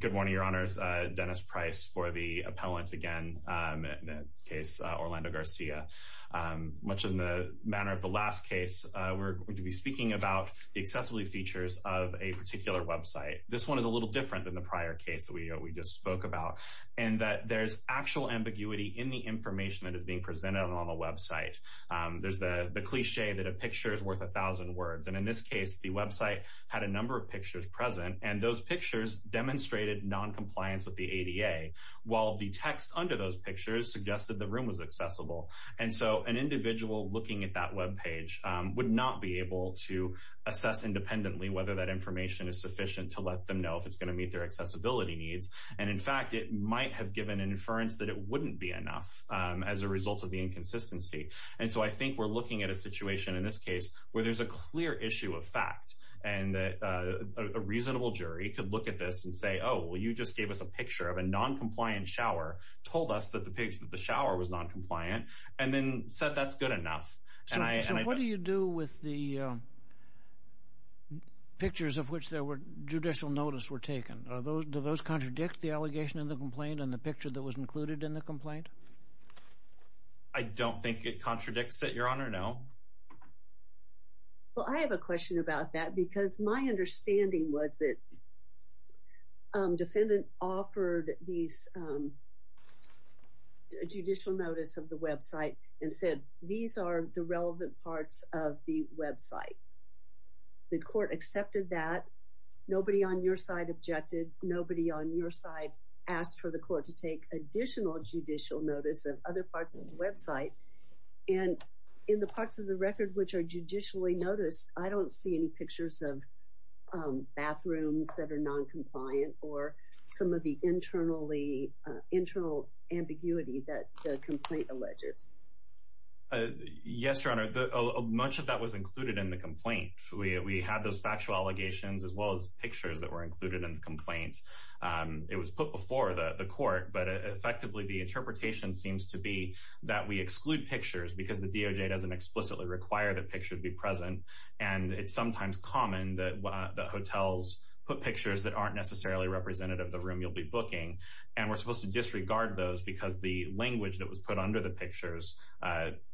Good morning, your honors. Dennis Price for the appellant again, in this case, Orlando Garcia. Much in the manner of the last case, we're going to be speaking about the accessibility features of a particular website. This one is a little different than the prior case that we just spoke about, in that there's actual ambiguity in the information that is being presented on the website. There's the cliché that a picture is worth a thousand words, and in this case, the website had a number of pictures present, and those pictures demonstrated non-compliance with the ADA, while the text under those pictures suggested the room was accessible. And so, an individual looking at that webpage would not be able to assess independently whether that information is sufficient to let them know if it's going to meet their accessibility needs. And in fact, it might have given an inference that it wouldn't be enough as a result of the inconsistency. And so, I think we're looking at a situation in this case where there's a clear issue of fact, and a reasonable jury could look at this and say, oh, well, you just gave us a picture of a non-compliant shower, told us that the shower was non-compliant, and then said that's good enough. So, what do you do with the pictures of which judicial notice were taken? Do those contradict the allegation in the complaint and the picture that was included in the complaint? I don't think it contradicts it, Your Honor, no. Well, I have a question about that, because my understanding was that the defendant offered these judicial notice of the website and said, these are the relevant parts of the website. The court accepted that. Nobody on your side objected. Nobody on your side asked for the court to take additional judicial notice of other parts of the website. And in the parts of the record which are judicially noticed, I don't see any pictures of bathrooms that are non-compliant or some of the internal ambiguity that the complaint alleges. Yes, Your Honor. Much of that was included in the complaint. We had those factual allegations as well as pictures that were included in the complaint. It was put before the court, but effectively the interpretation seems to be that we exclude pictures because the DOJ doesn't explicitly require that pictures be present. And it's sometimes common that hotels put pictures that aren't necessarily representative of the room you'll be booking. And we're supposed to disregard those because the language that was put under the pictures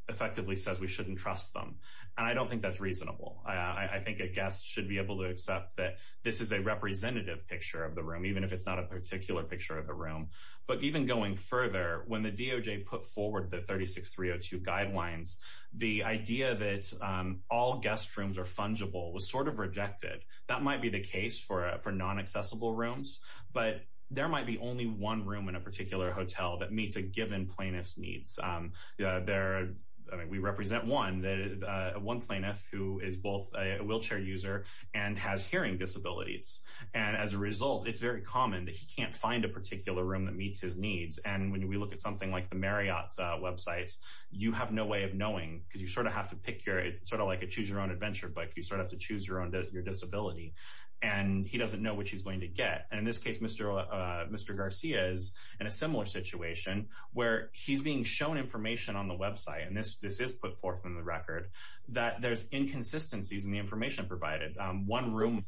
effectively says we shouldn't trust them. And I don't think that's reasonable. I think a guest should be able to accept that this is a representative picture of the room, even if it's not a particular picture of the room. But even going further, when the DOJ put forward the 36302 guidelines, the idea that all guest rooms are fungible was sort of rejected. That might be the case for non-accessible rooms, but there might be only one room in a particular hotel that meets a given plaintiff's needs. We represent one, one plaintiff who is both a wheelchair user and has hearing disabilities. And as a result, it's very common that he can't find a particular room that meets his needs. And when we look at something like the Marriott websites, you have no way of knowing because you sort of have to pick your, sort of like he doesn't know what he's going to get. And in this case, Mr. Garcia is in a similar situation where he's being shown information on the website. And this is put forth in the record that there's inconsistencies in the information provided. One room.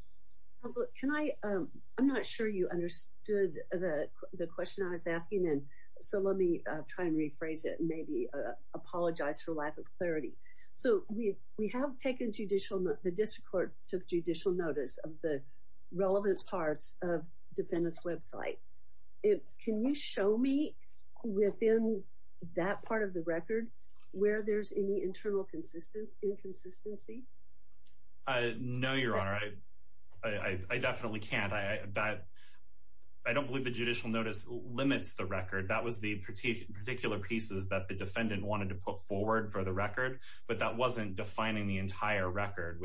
Counselor, can I, I'm not sure you understood the question I was asking. And so let me try and rephrase it and maybe apologize for lack of clarity. So we have taken judicial, the district court took judicial notice of the relevant parts of defendant's website. Can you show me within that part of the record where there's any internal inconsistency? No, Your Honor. I definitely can't. I don't believe the judicial notice limits the record. That was the particular pieces that the defendant wanted to put forward for the record, but that wasn't defining the entire record.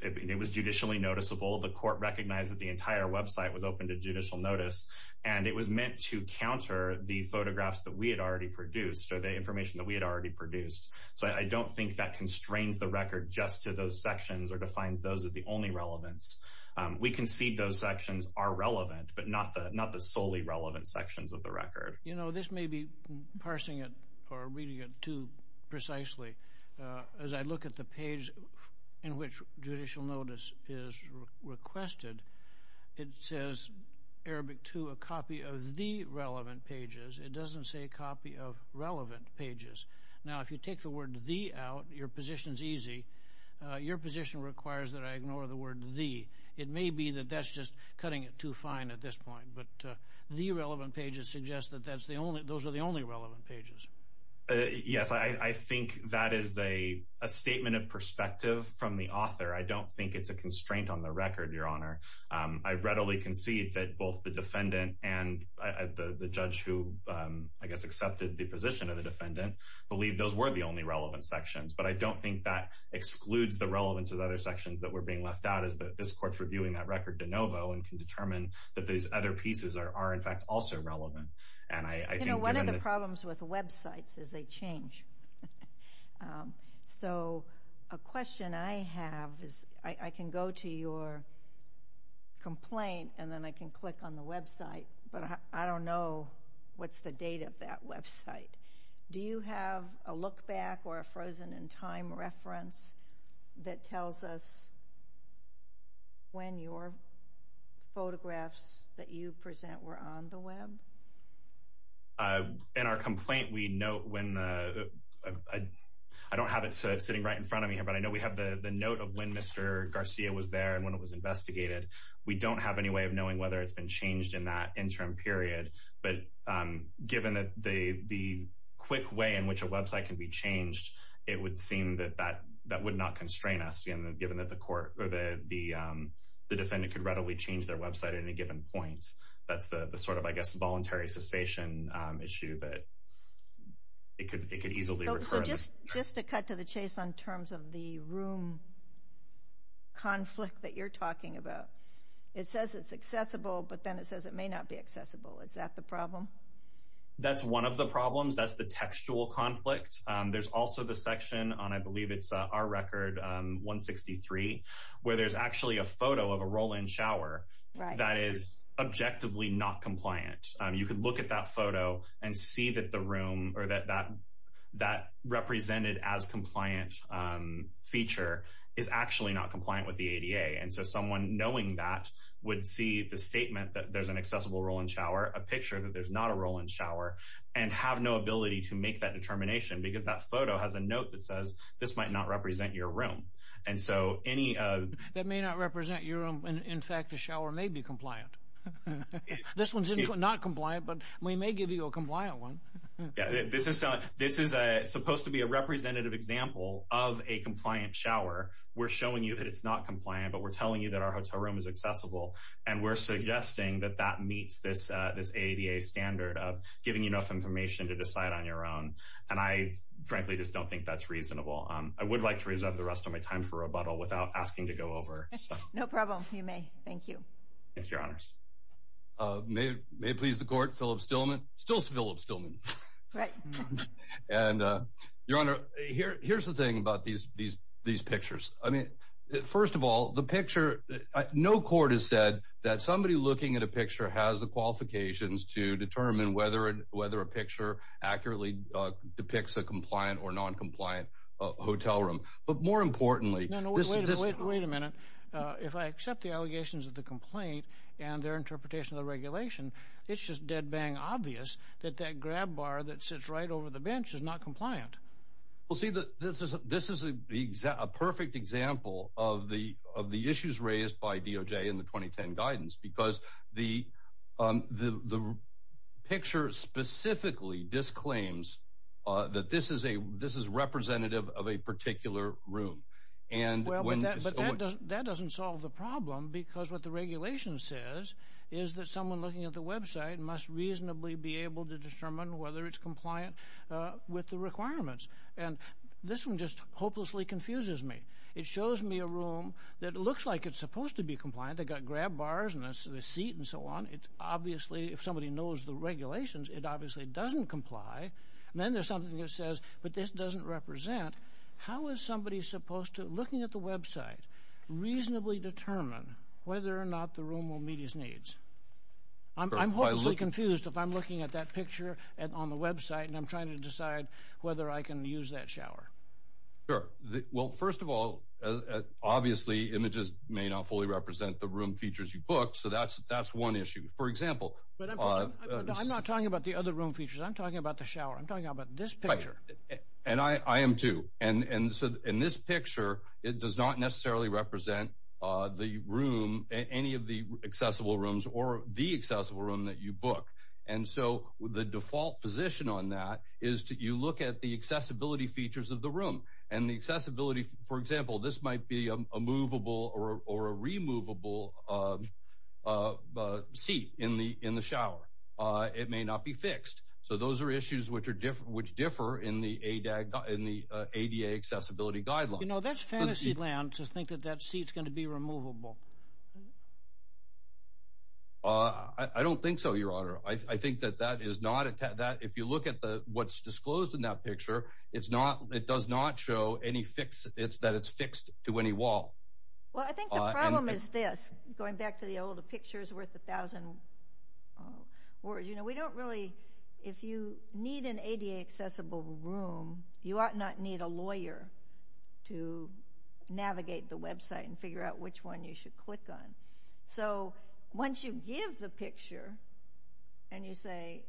It was judicially noticeable. The court recognized that the entire website was open to judicial notice, and it was meant to counter the photographs that we had already produced or the information that we had already produced. So I don't think that constrains the record just to those sections or defines those as the only relevance. We concede those sections are relevant, but not the solely relevant sections of the record. You know, this may be parsing it or reading it too precisely. As I look at the page in which judicial notice is requested, it says, Arabic 2, a copy of the relevant pages. It doesn't say copy of relevant pages. Now, if you take the word the out, your position's easy. Your position requires that I ignore the word the. It may be that that's just cutting it too fine at this point, but the relevant pages suggest that those are the only relevant pages. Yes, I think that is a statement of perspective from the author. I don't think it's a constraint on the record, Your Honor. I readily concede that both the defendant and the judge who, I guess, accepted the position of the defendant, believe those were the only relevant sections, but I don't think that excludes the relevance of other sections that were being left out as this court's reviewing that record de novo and can determine that these other pieces are, in fact, also relevant. You know, one of the problems with websites is they change. So, a question I have is, I can go to your complaint and then I can click on the website, but I don't know what's the date of that website. Do you have a look back or a frozen in time reference that tells us when your photographs that you present were on the web? In our complaint, we note when the, I don't have it sitting right in front of me here, but I know we have the note of when Mr. Garcia was there and when it was investigated. We don't have any way of knowing whether it's been changed in that interim period, but given the quick way in which a website can be changed, it would seem that that would not constrain us, given that the court or the defendant could readily change their website at any given point. That's the sort of, I guess, voluntary cessation issue that it could easily recur. So, just to cut to the chase on terms of the room conflict that you're talking about, it says it's accessible, but then it says it may not be accessible. Is that the problem? That's one of the problems. That's the textual conflict. There's also the section on, I believe it's our record, 163, where there's actually a photo of a roll-in shower that is objectively not compliant. You could look at that photo and see that the room or that represented as compliant feature is actually not compliant with the ADA. And so, someone knowing that would see the statement that there's an accessible roll-in shower, a picture that there's not a roll-in shower, and have no ability to make that determination because that photo has a note that says this might not represent your room. And so, any... That may not represent your room, and in fact the shower may be compliant. This one's not compliant, but we may give you a compliant one. Yeah, this is supposed to be a representative example of a compliant shower. We're not compliant, but we're telling you that our hotel room is accessible, and we're suggesting that that meets this ADA standard of giving you enough information to decide on your own, and I frankly just don't think that's reasonable. I would like to reserve the rest of my time for rebuttal without asking to go over stuff. No problem. You may. Thank you. Thank you, Your Honors. May it please the Court, Philip Stillman. Still Philip Stillman. Right. And Your Honor, here's the thing about these pictures. I mean, first of all, the picture... No court has said that somebody looking at a picture has the qualifications to determine whether a picture accurately depicts a compliant or non-compliant hotel room. But more importantly... No, no, wait a minute. If I accept the allegations of the complaint and their interpretation of the regulation, it's just dead-bang obvious that that grab bar that sits right over the bench is not compliant. Well, see, this is a perfect example of the issues raised by DOJ in the 2010 guidance, because the picture specifically disclaims that this is representative of a particular room. That doesn't solve the problem, because what the regulation says is that someone looking at the And this one just hopelessly confuses me. It shows me a room that looks like it's supposed to be compliant. They've got grab bars and a seat and so on. It's obviously... If somebody knows the regulations, it obviously doesn't comply. And then there's something that says, but this doesn't represent. How is somebody supposed to, looking at the website, reasonably determine whether or not the room will meet his needs? I'm hopelessly confused if I'm at that picture on the website and I'm trying to decide whether I can use that shower. Sure. Well, first of all, obviously, images may not fully represent the room features you booked. So that's one issue. For example... But I'm not talking about the other room features. I'm talking about the shower. I'm talking about this picture. Right. And I am too. And so in this picture, it does not necessarily represent the room, any of the accessible rooms or the accessible room that you book. And so the default position on that is that you look at the accessibility features of the room and the accessibility. For example, this might be a movable or a removable seat in the in the shower. It may not be fixed. So those are issues which are different, which differ in the ADA accessibility guidelines. You know, that's fantasy land to think that that it's going to be removable. I don't think so, Your Honor. I think that that is not that if you look at what's disclosed in that picture, it's not it does not show any fix. It's that it's fixed to any wall. Well, I think the problem is this going back to the old picture is worth a thousand words. You know, we don't really if you need an ADA accessible room, you ought not need a lawyer to navigate the website and figure out which one you should click on. So once you give the picture and you say,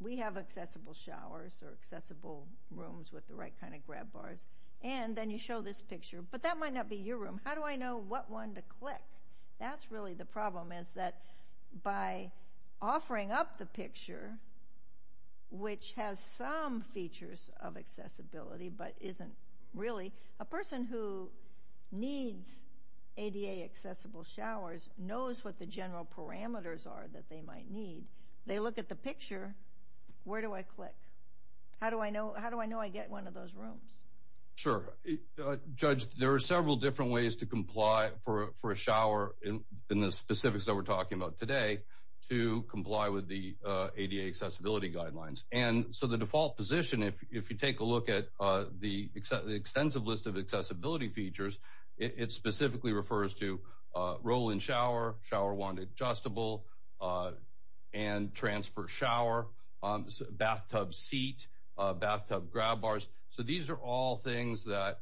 we have accessible showers or accessible rooms with the right kind of grab bars, and then you show this picture, but that might not be your room. How do I know what one to click? That's really the problem is that by offering up the picture, which has some features of isn't really a person who needs ADA accessible showers knows what the general parameters are that they might need. They look at the picture. Where do I click? How do I know? How do I know I get one of those rooms? Sure. Judge, there are several different ways to comply for a shower in the specifics that we're talking about today to comply with the ADA accessibility guidelines. And so the default position, if you take a look at the extensive list of accessibility features, it specifically refers to roll in shower, shower wand adjustable, and transfer shower, bathtub seat, bathtub grab bars. So these are all things that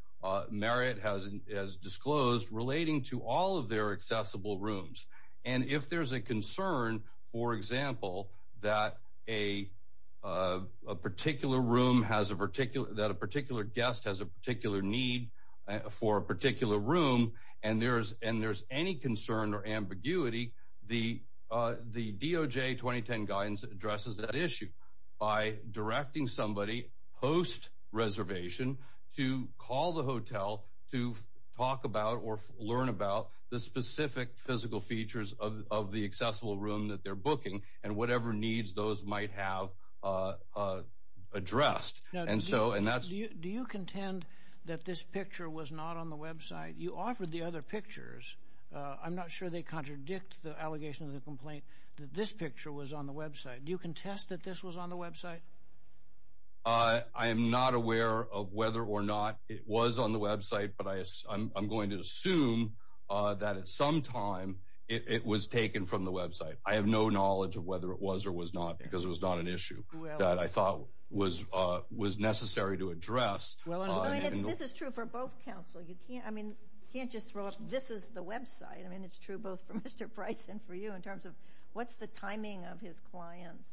Merritt has disclosed relating to all their accessible rooms. And if there's a concern, for example, that a particular guest has a particular need for a particular room and there's any concern or ambiguity, the DOJ 2010 guidance addresses that issue by directing somebody post reservation to call the hotel to talk about or learn about the specific physical features of the accessible room that they're booking and whatever needs those might have addressed. Do you contend that this picture was not on the website? You offered the other pictures. I'm not sure they contradict the allegation of the complaint that this picture was on the website. Do you contest that this was on the website? I am not aware of whether or not it was on the website, but I'm going to assume that at some time it was taken from the website. I have no knowledge of whether it was or was not, because it was not an issue that I thought was necessary to address. This is true for both counsel. You can't just throw up this is the website. I mean, it's true both for Mr. Price and for you in terms of what's the timing of his client's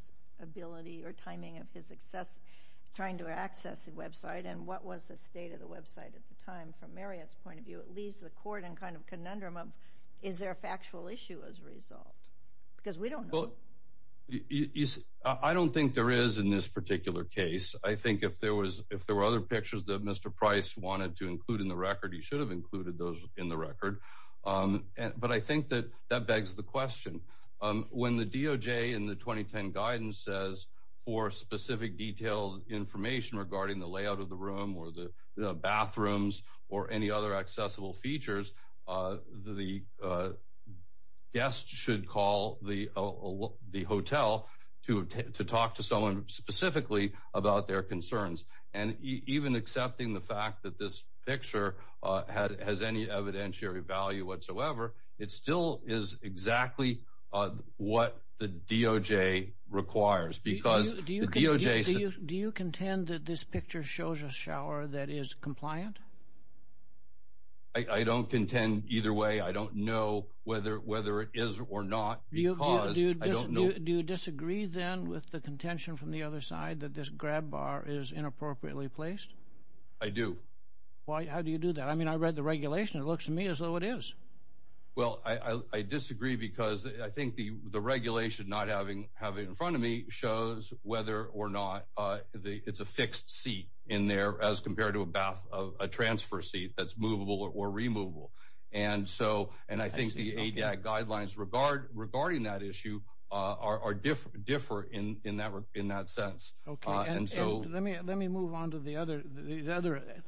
or timing of his trying to access the website and what was the state of the website at the time. From Marriott's point of view, it leaves the court in kind of a conundrum of is there a factual issue as a result? Because we don't know. I don't think there is in this particular case. I think if there were other pictures that Mr. Price wanted to include in the record, he should have included those in the record, but I think that that begs the question. When the DOJ in the 2010 guidance says for specific detailed information regarding the layout of the room or the bathrooms or any other accessible features, the guest should call the hotel to talk to someone specifically about their concerns, and even accepting the fact that this picture has any evidentiary value whatsoever, it still is exactly what the DOJ requires. Do you contend that this picture shows a shower that is compliant? I don't contend either way. I don't know whether it is or not. Do you disagree then with the contention from the other side that this grab bar is inappropriately placed? I do. How do you do that? I mean, I read the regulation. It looks to me as though it is. Well, I disagree because I think the regulation not having it in front of me shows whether or not it's a fixed seat in there as compared to a transfer seat that's movable or removable. And so, and I think the ADAC guidelines regarding that issue differ in that sense. Let me move on to the other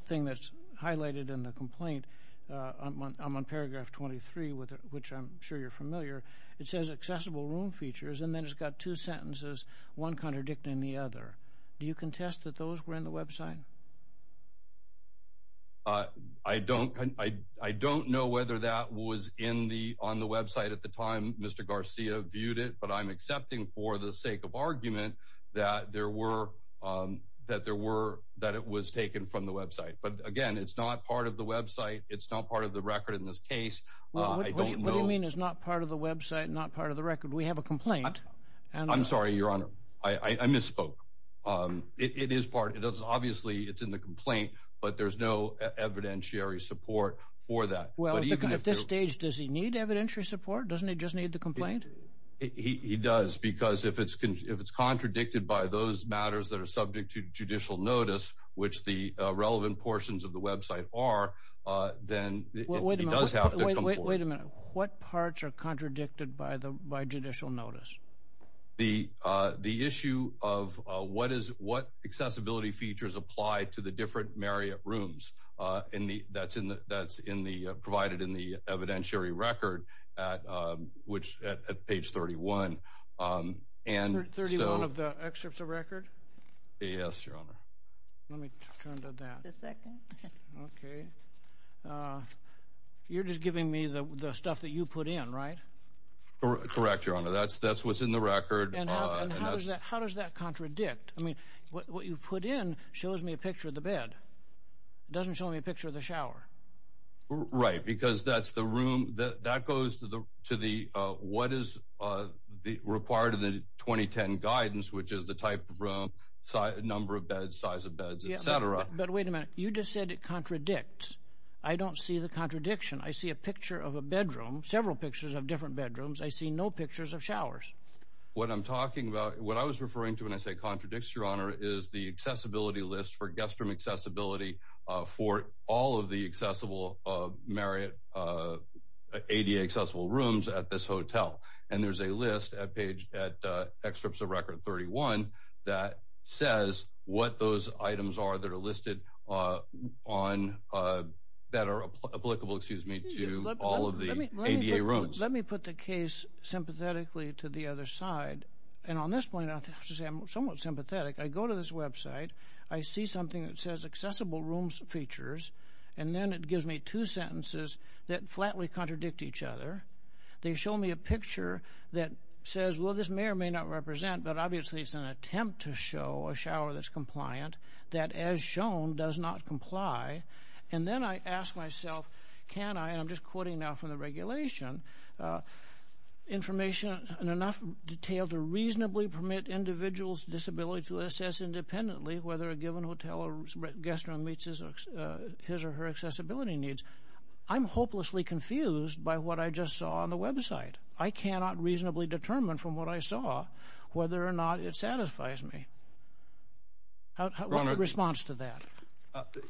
thing that's highlighted in the complaint. I'm on paragraph 23, which I'm sure you're familiar. It says accessible room features, and then it's got two sentences, one contradicting the other. Do you contest that those were in the website? I don't know whether that was on the website at the time Mr. Garcia viewed it, but I'm accepting for the sake of argument that it was taken from the website. But again, it's not part of the website. It's not part of the record in this case. What do you mean it's not part of the website, not part of the record? We have a complaint. I'm sorry, Your Honor. I misspoke. It is part, obviously, it's in the complaint, but there's no evidentiary support for that. Well, at this stage, does he need evidentiary support? Doesn't he just need the complaint? He does, because if it's contradicted by those matters that are subject to judicial notice, which the relevant portions of the website are, then he does have to come forward. Wait a minute. What parts are contradicted by features applied to the different Marriott rooms provided in the evidentiary record at page 31? 31 of the excerpts of record? Yes, Your Honor. Let me turn to that. You're just giving me the stuff that you put in, right? Correct, Your Honor. That's what's in the record. How does that contradict? I mean, what you put in shows me a picture of the bed. It doesn't show me a picture of the shower. Right, because that's the room that goes to the what is required of the 2010 guidance, which is the type of room, number of beds, size of beds, et cetera. But wait a minute. You just said it contradicts. I don't see the contradiction. I see a picture of a bedroom, several pictures of different bedrooms. I see no pictures of showers. What I'm talking about, what I was referring to when I say contradicts, Your Honor, is the accessibility list for guest room accessibility for all of the accessible Marriott ADA accessible rooms at this hotel. And there's a list at page at excerpts of record 31 that says what those items are that are listed on that are applicable, excuse me, to all of the ADA rooms. Let me put the case sympathetically to the other side. And on this point, I have to say I'm somewhat sympathetic. I go to this website. I see something that says accessible rooms features, and then it gives me two sentences that flatly contradict each other. They show me a picture that says, well, this may or may not represent, but obviously it's an attempt to show a shower that's compliant that as shown does not comply. And then I ask myself, can I, and I'm just quoting now from the regulation, information in enough detail to reasonably permit individuals' disability to assess independently whether a given hotel or guest room meets his or her accessibility needs. I'm hopelessly confused by what I just saw on the website. I cannot reasonably determine from what I saw whether or not it satisfies me. What's the response to that?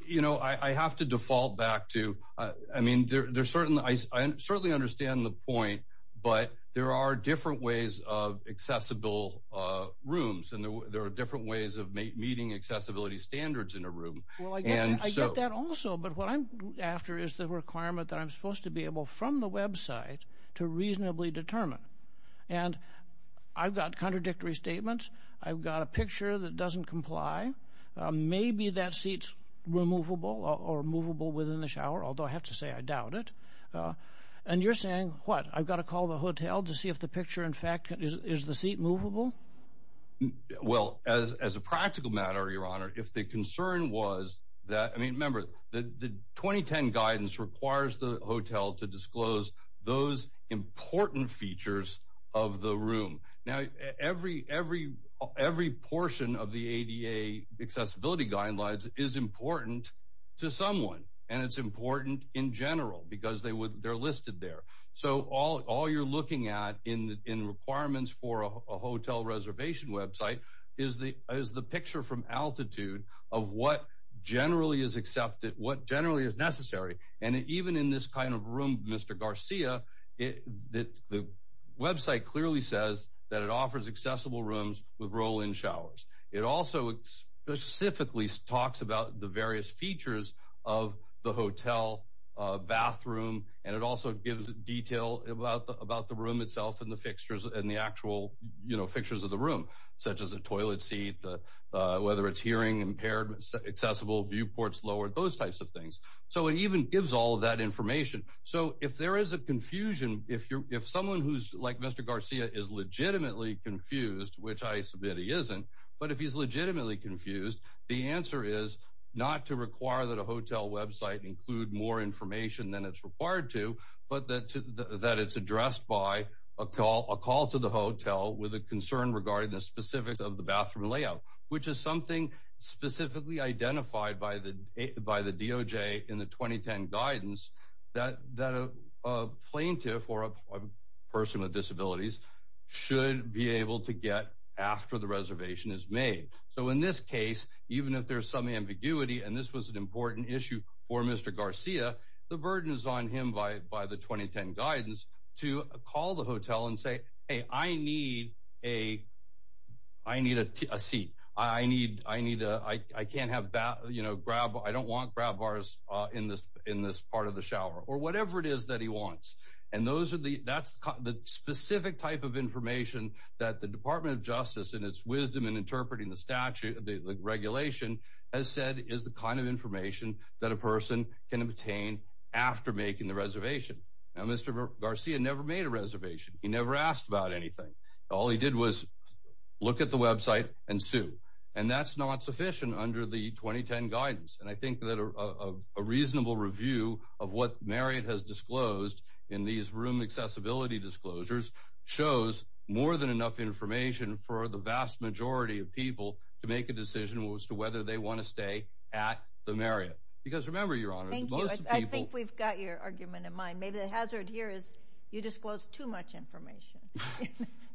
You know, I have to default back to, I mean, there's certain, I certainly understand the point, but there are different ways of accessible rooms, and there are different ways of meeting accessibility standards in a room. Well, I get that also, but what I'm after is the requirement that I'm supposed to be able from the website to reasonably determine. And I've got contradictory statements. I've got a picture that doesn't comply. Maybe that seat's removable or movable within the shower, although I have to say I doubt it. And you're saying, what, I've got to call the hotel to see if the picture, in fact, is the seat movable? Well, as a practical matter, Your Honor, if the concern was that, I mean, remember, the 2010 guidance requires the hotel to disclose those important features of the room. Now, every portion of the ADA accessibility guidelines is important to someone, and it's important in general, because they're listed there. So all you're looking at in requirements for a hotel reservation website is the picture from altitude of what generally is accepted, what generally is necessary. And even in this kind of room, Mr. Garcia, the website clearly says that it offers accessible rooms with roll-in showers. It also specifically talks about the various features of the hotel bathroom, and it also gives detail about the room itself and the fixtures and the actual, you know, fixtures of the room, such as the toilet seat, whether it's hearing impaired, accessible, viewports lowered, those types of things. So it even gives all of that confused, which I submit he isn't. But if he's legitimately confused, the answer is not to require that a hotel website include more information than it's required to, but that it's addressed by a call to the hotel with a concern regarding the specifics of the bathroom layout, which is something specifically identified by the DOJ in the 2010 guidance that a plaintiff or a person with disabilities should be able to get after the reservation is made. So in this case, even if there's some ambiguity, and this was an important issue for Mr. Garcia, the burden is on him by the 2010 guidance to call the hotel and say, hey, I need a seat. I don't want grab bars in this part of the shower, or whatever it is that he wants. And that's the specific type of information that the Department of Justice in its wisdom in interpreting the statute, the regulation, has said is the kind of information that a person can obtain after making the reservation. Now, Mr. Garcia never made a reservation. He never asked about anything. All he did was look at the website and sue. And that's not sufficient under the 2010 guidance. And I think that a reasonable review of what Marriott has disclosed in these room accessibility disclosures shows more than enough information for the vast majority of people to make a decision as to whether they want to stay at the Marriott. Because remember, Your Honor, most people... Thank you. I think we've got your argument in mind. Maybe the hazard here is you disclosed too much information.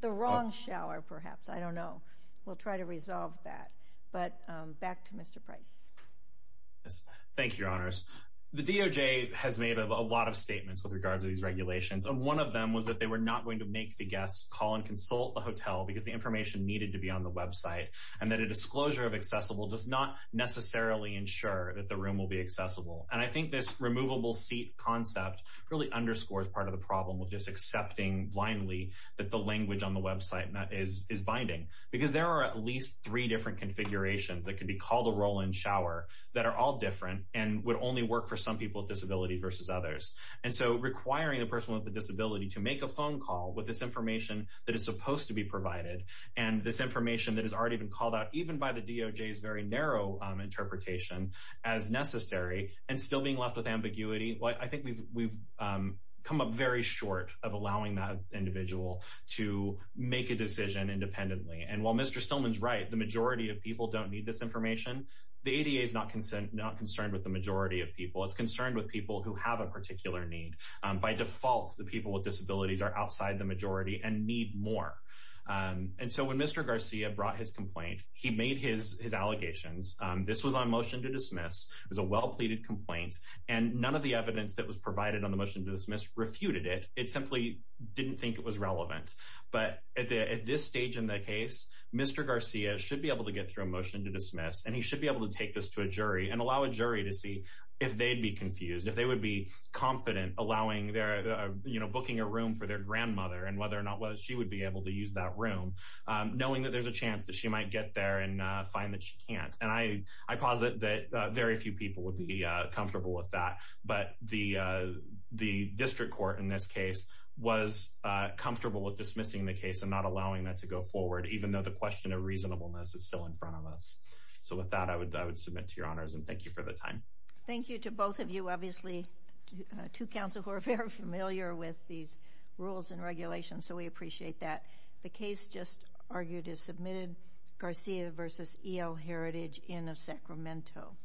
The wrong shower, perhaps. I don't know. We'll try to resolve that. But back to Mr. Price. Thank you, Your Honors. The DOJ has made a lot of statements with regards to these regulations. And one of them was that they were not going to make the guests call and consult the hotel because the information needed to be on the website, and that a disclosure of accessible does not necessarily ensure that the room will be accessible. And I think this removable seat concept really underscores part of the problem with just accepting blindly that the language on the website is binding. There are at least three different configurations that can be called a roll-in shower that are all different and would only work for some people with disabilities versus others. And so requiring a person with a disability to make a phone call with this information that is supposed to be provided and this information that has already been called out even by the DOJ's very narrow interpretation as necessary and still being left with ambiguity, I think we've come up very short of allowing that individual to make a decision independently. And while Mr. Stillman's right, the majority of people don't need this information, the ADA is not concerned with the majority of people. It's concerned with people who have a particular need. By default, the people with disabilities are outside the majority and need more. And so when Mr. Garcia brought his complaint, he made his allegations. This was on motion to dismiss. It was a well-pleaded complaint. And none of the evidence that was provided on the motion to dismiss refuted it. It simply didn't think it was relevant. But at this stage in the case, Mr. Garcia should be able to get through a motion to dismiss, and he should be able to take this to a jury and allow a jury to see if they'd be confused, if they would be confident allowing their, you know, booking a room for their grandmother and whether or not she would be able to use that room, knowing that there's a chance that she might get there and find that she can't. And I posit that very few people would be comfortable with that. But the district court in this case was comfortable with dismissing the case and not allowing that to go forward, even though the question of reasonableness is still in front of us. So with that, I would submit to your honors and thank you for the time. Thank you to both of you. Obviously, two counsel who are very familiar with these rules and regulations, so we appreciate that. The case just argued is submitted, Garcia v. E.L. Heritage, Inn of Sacramento.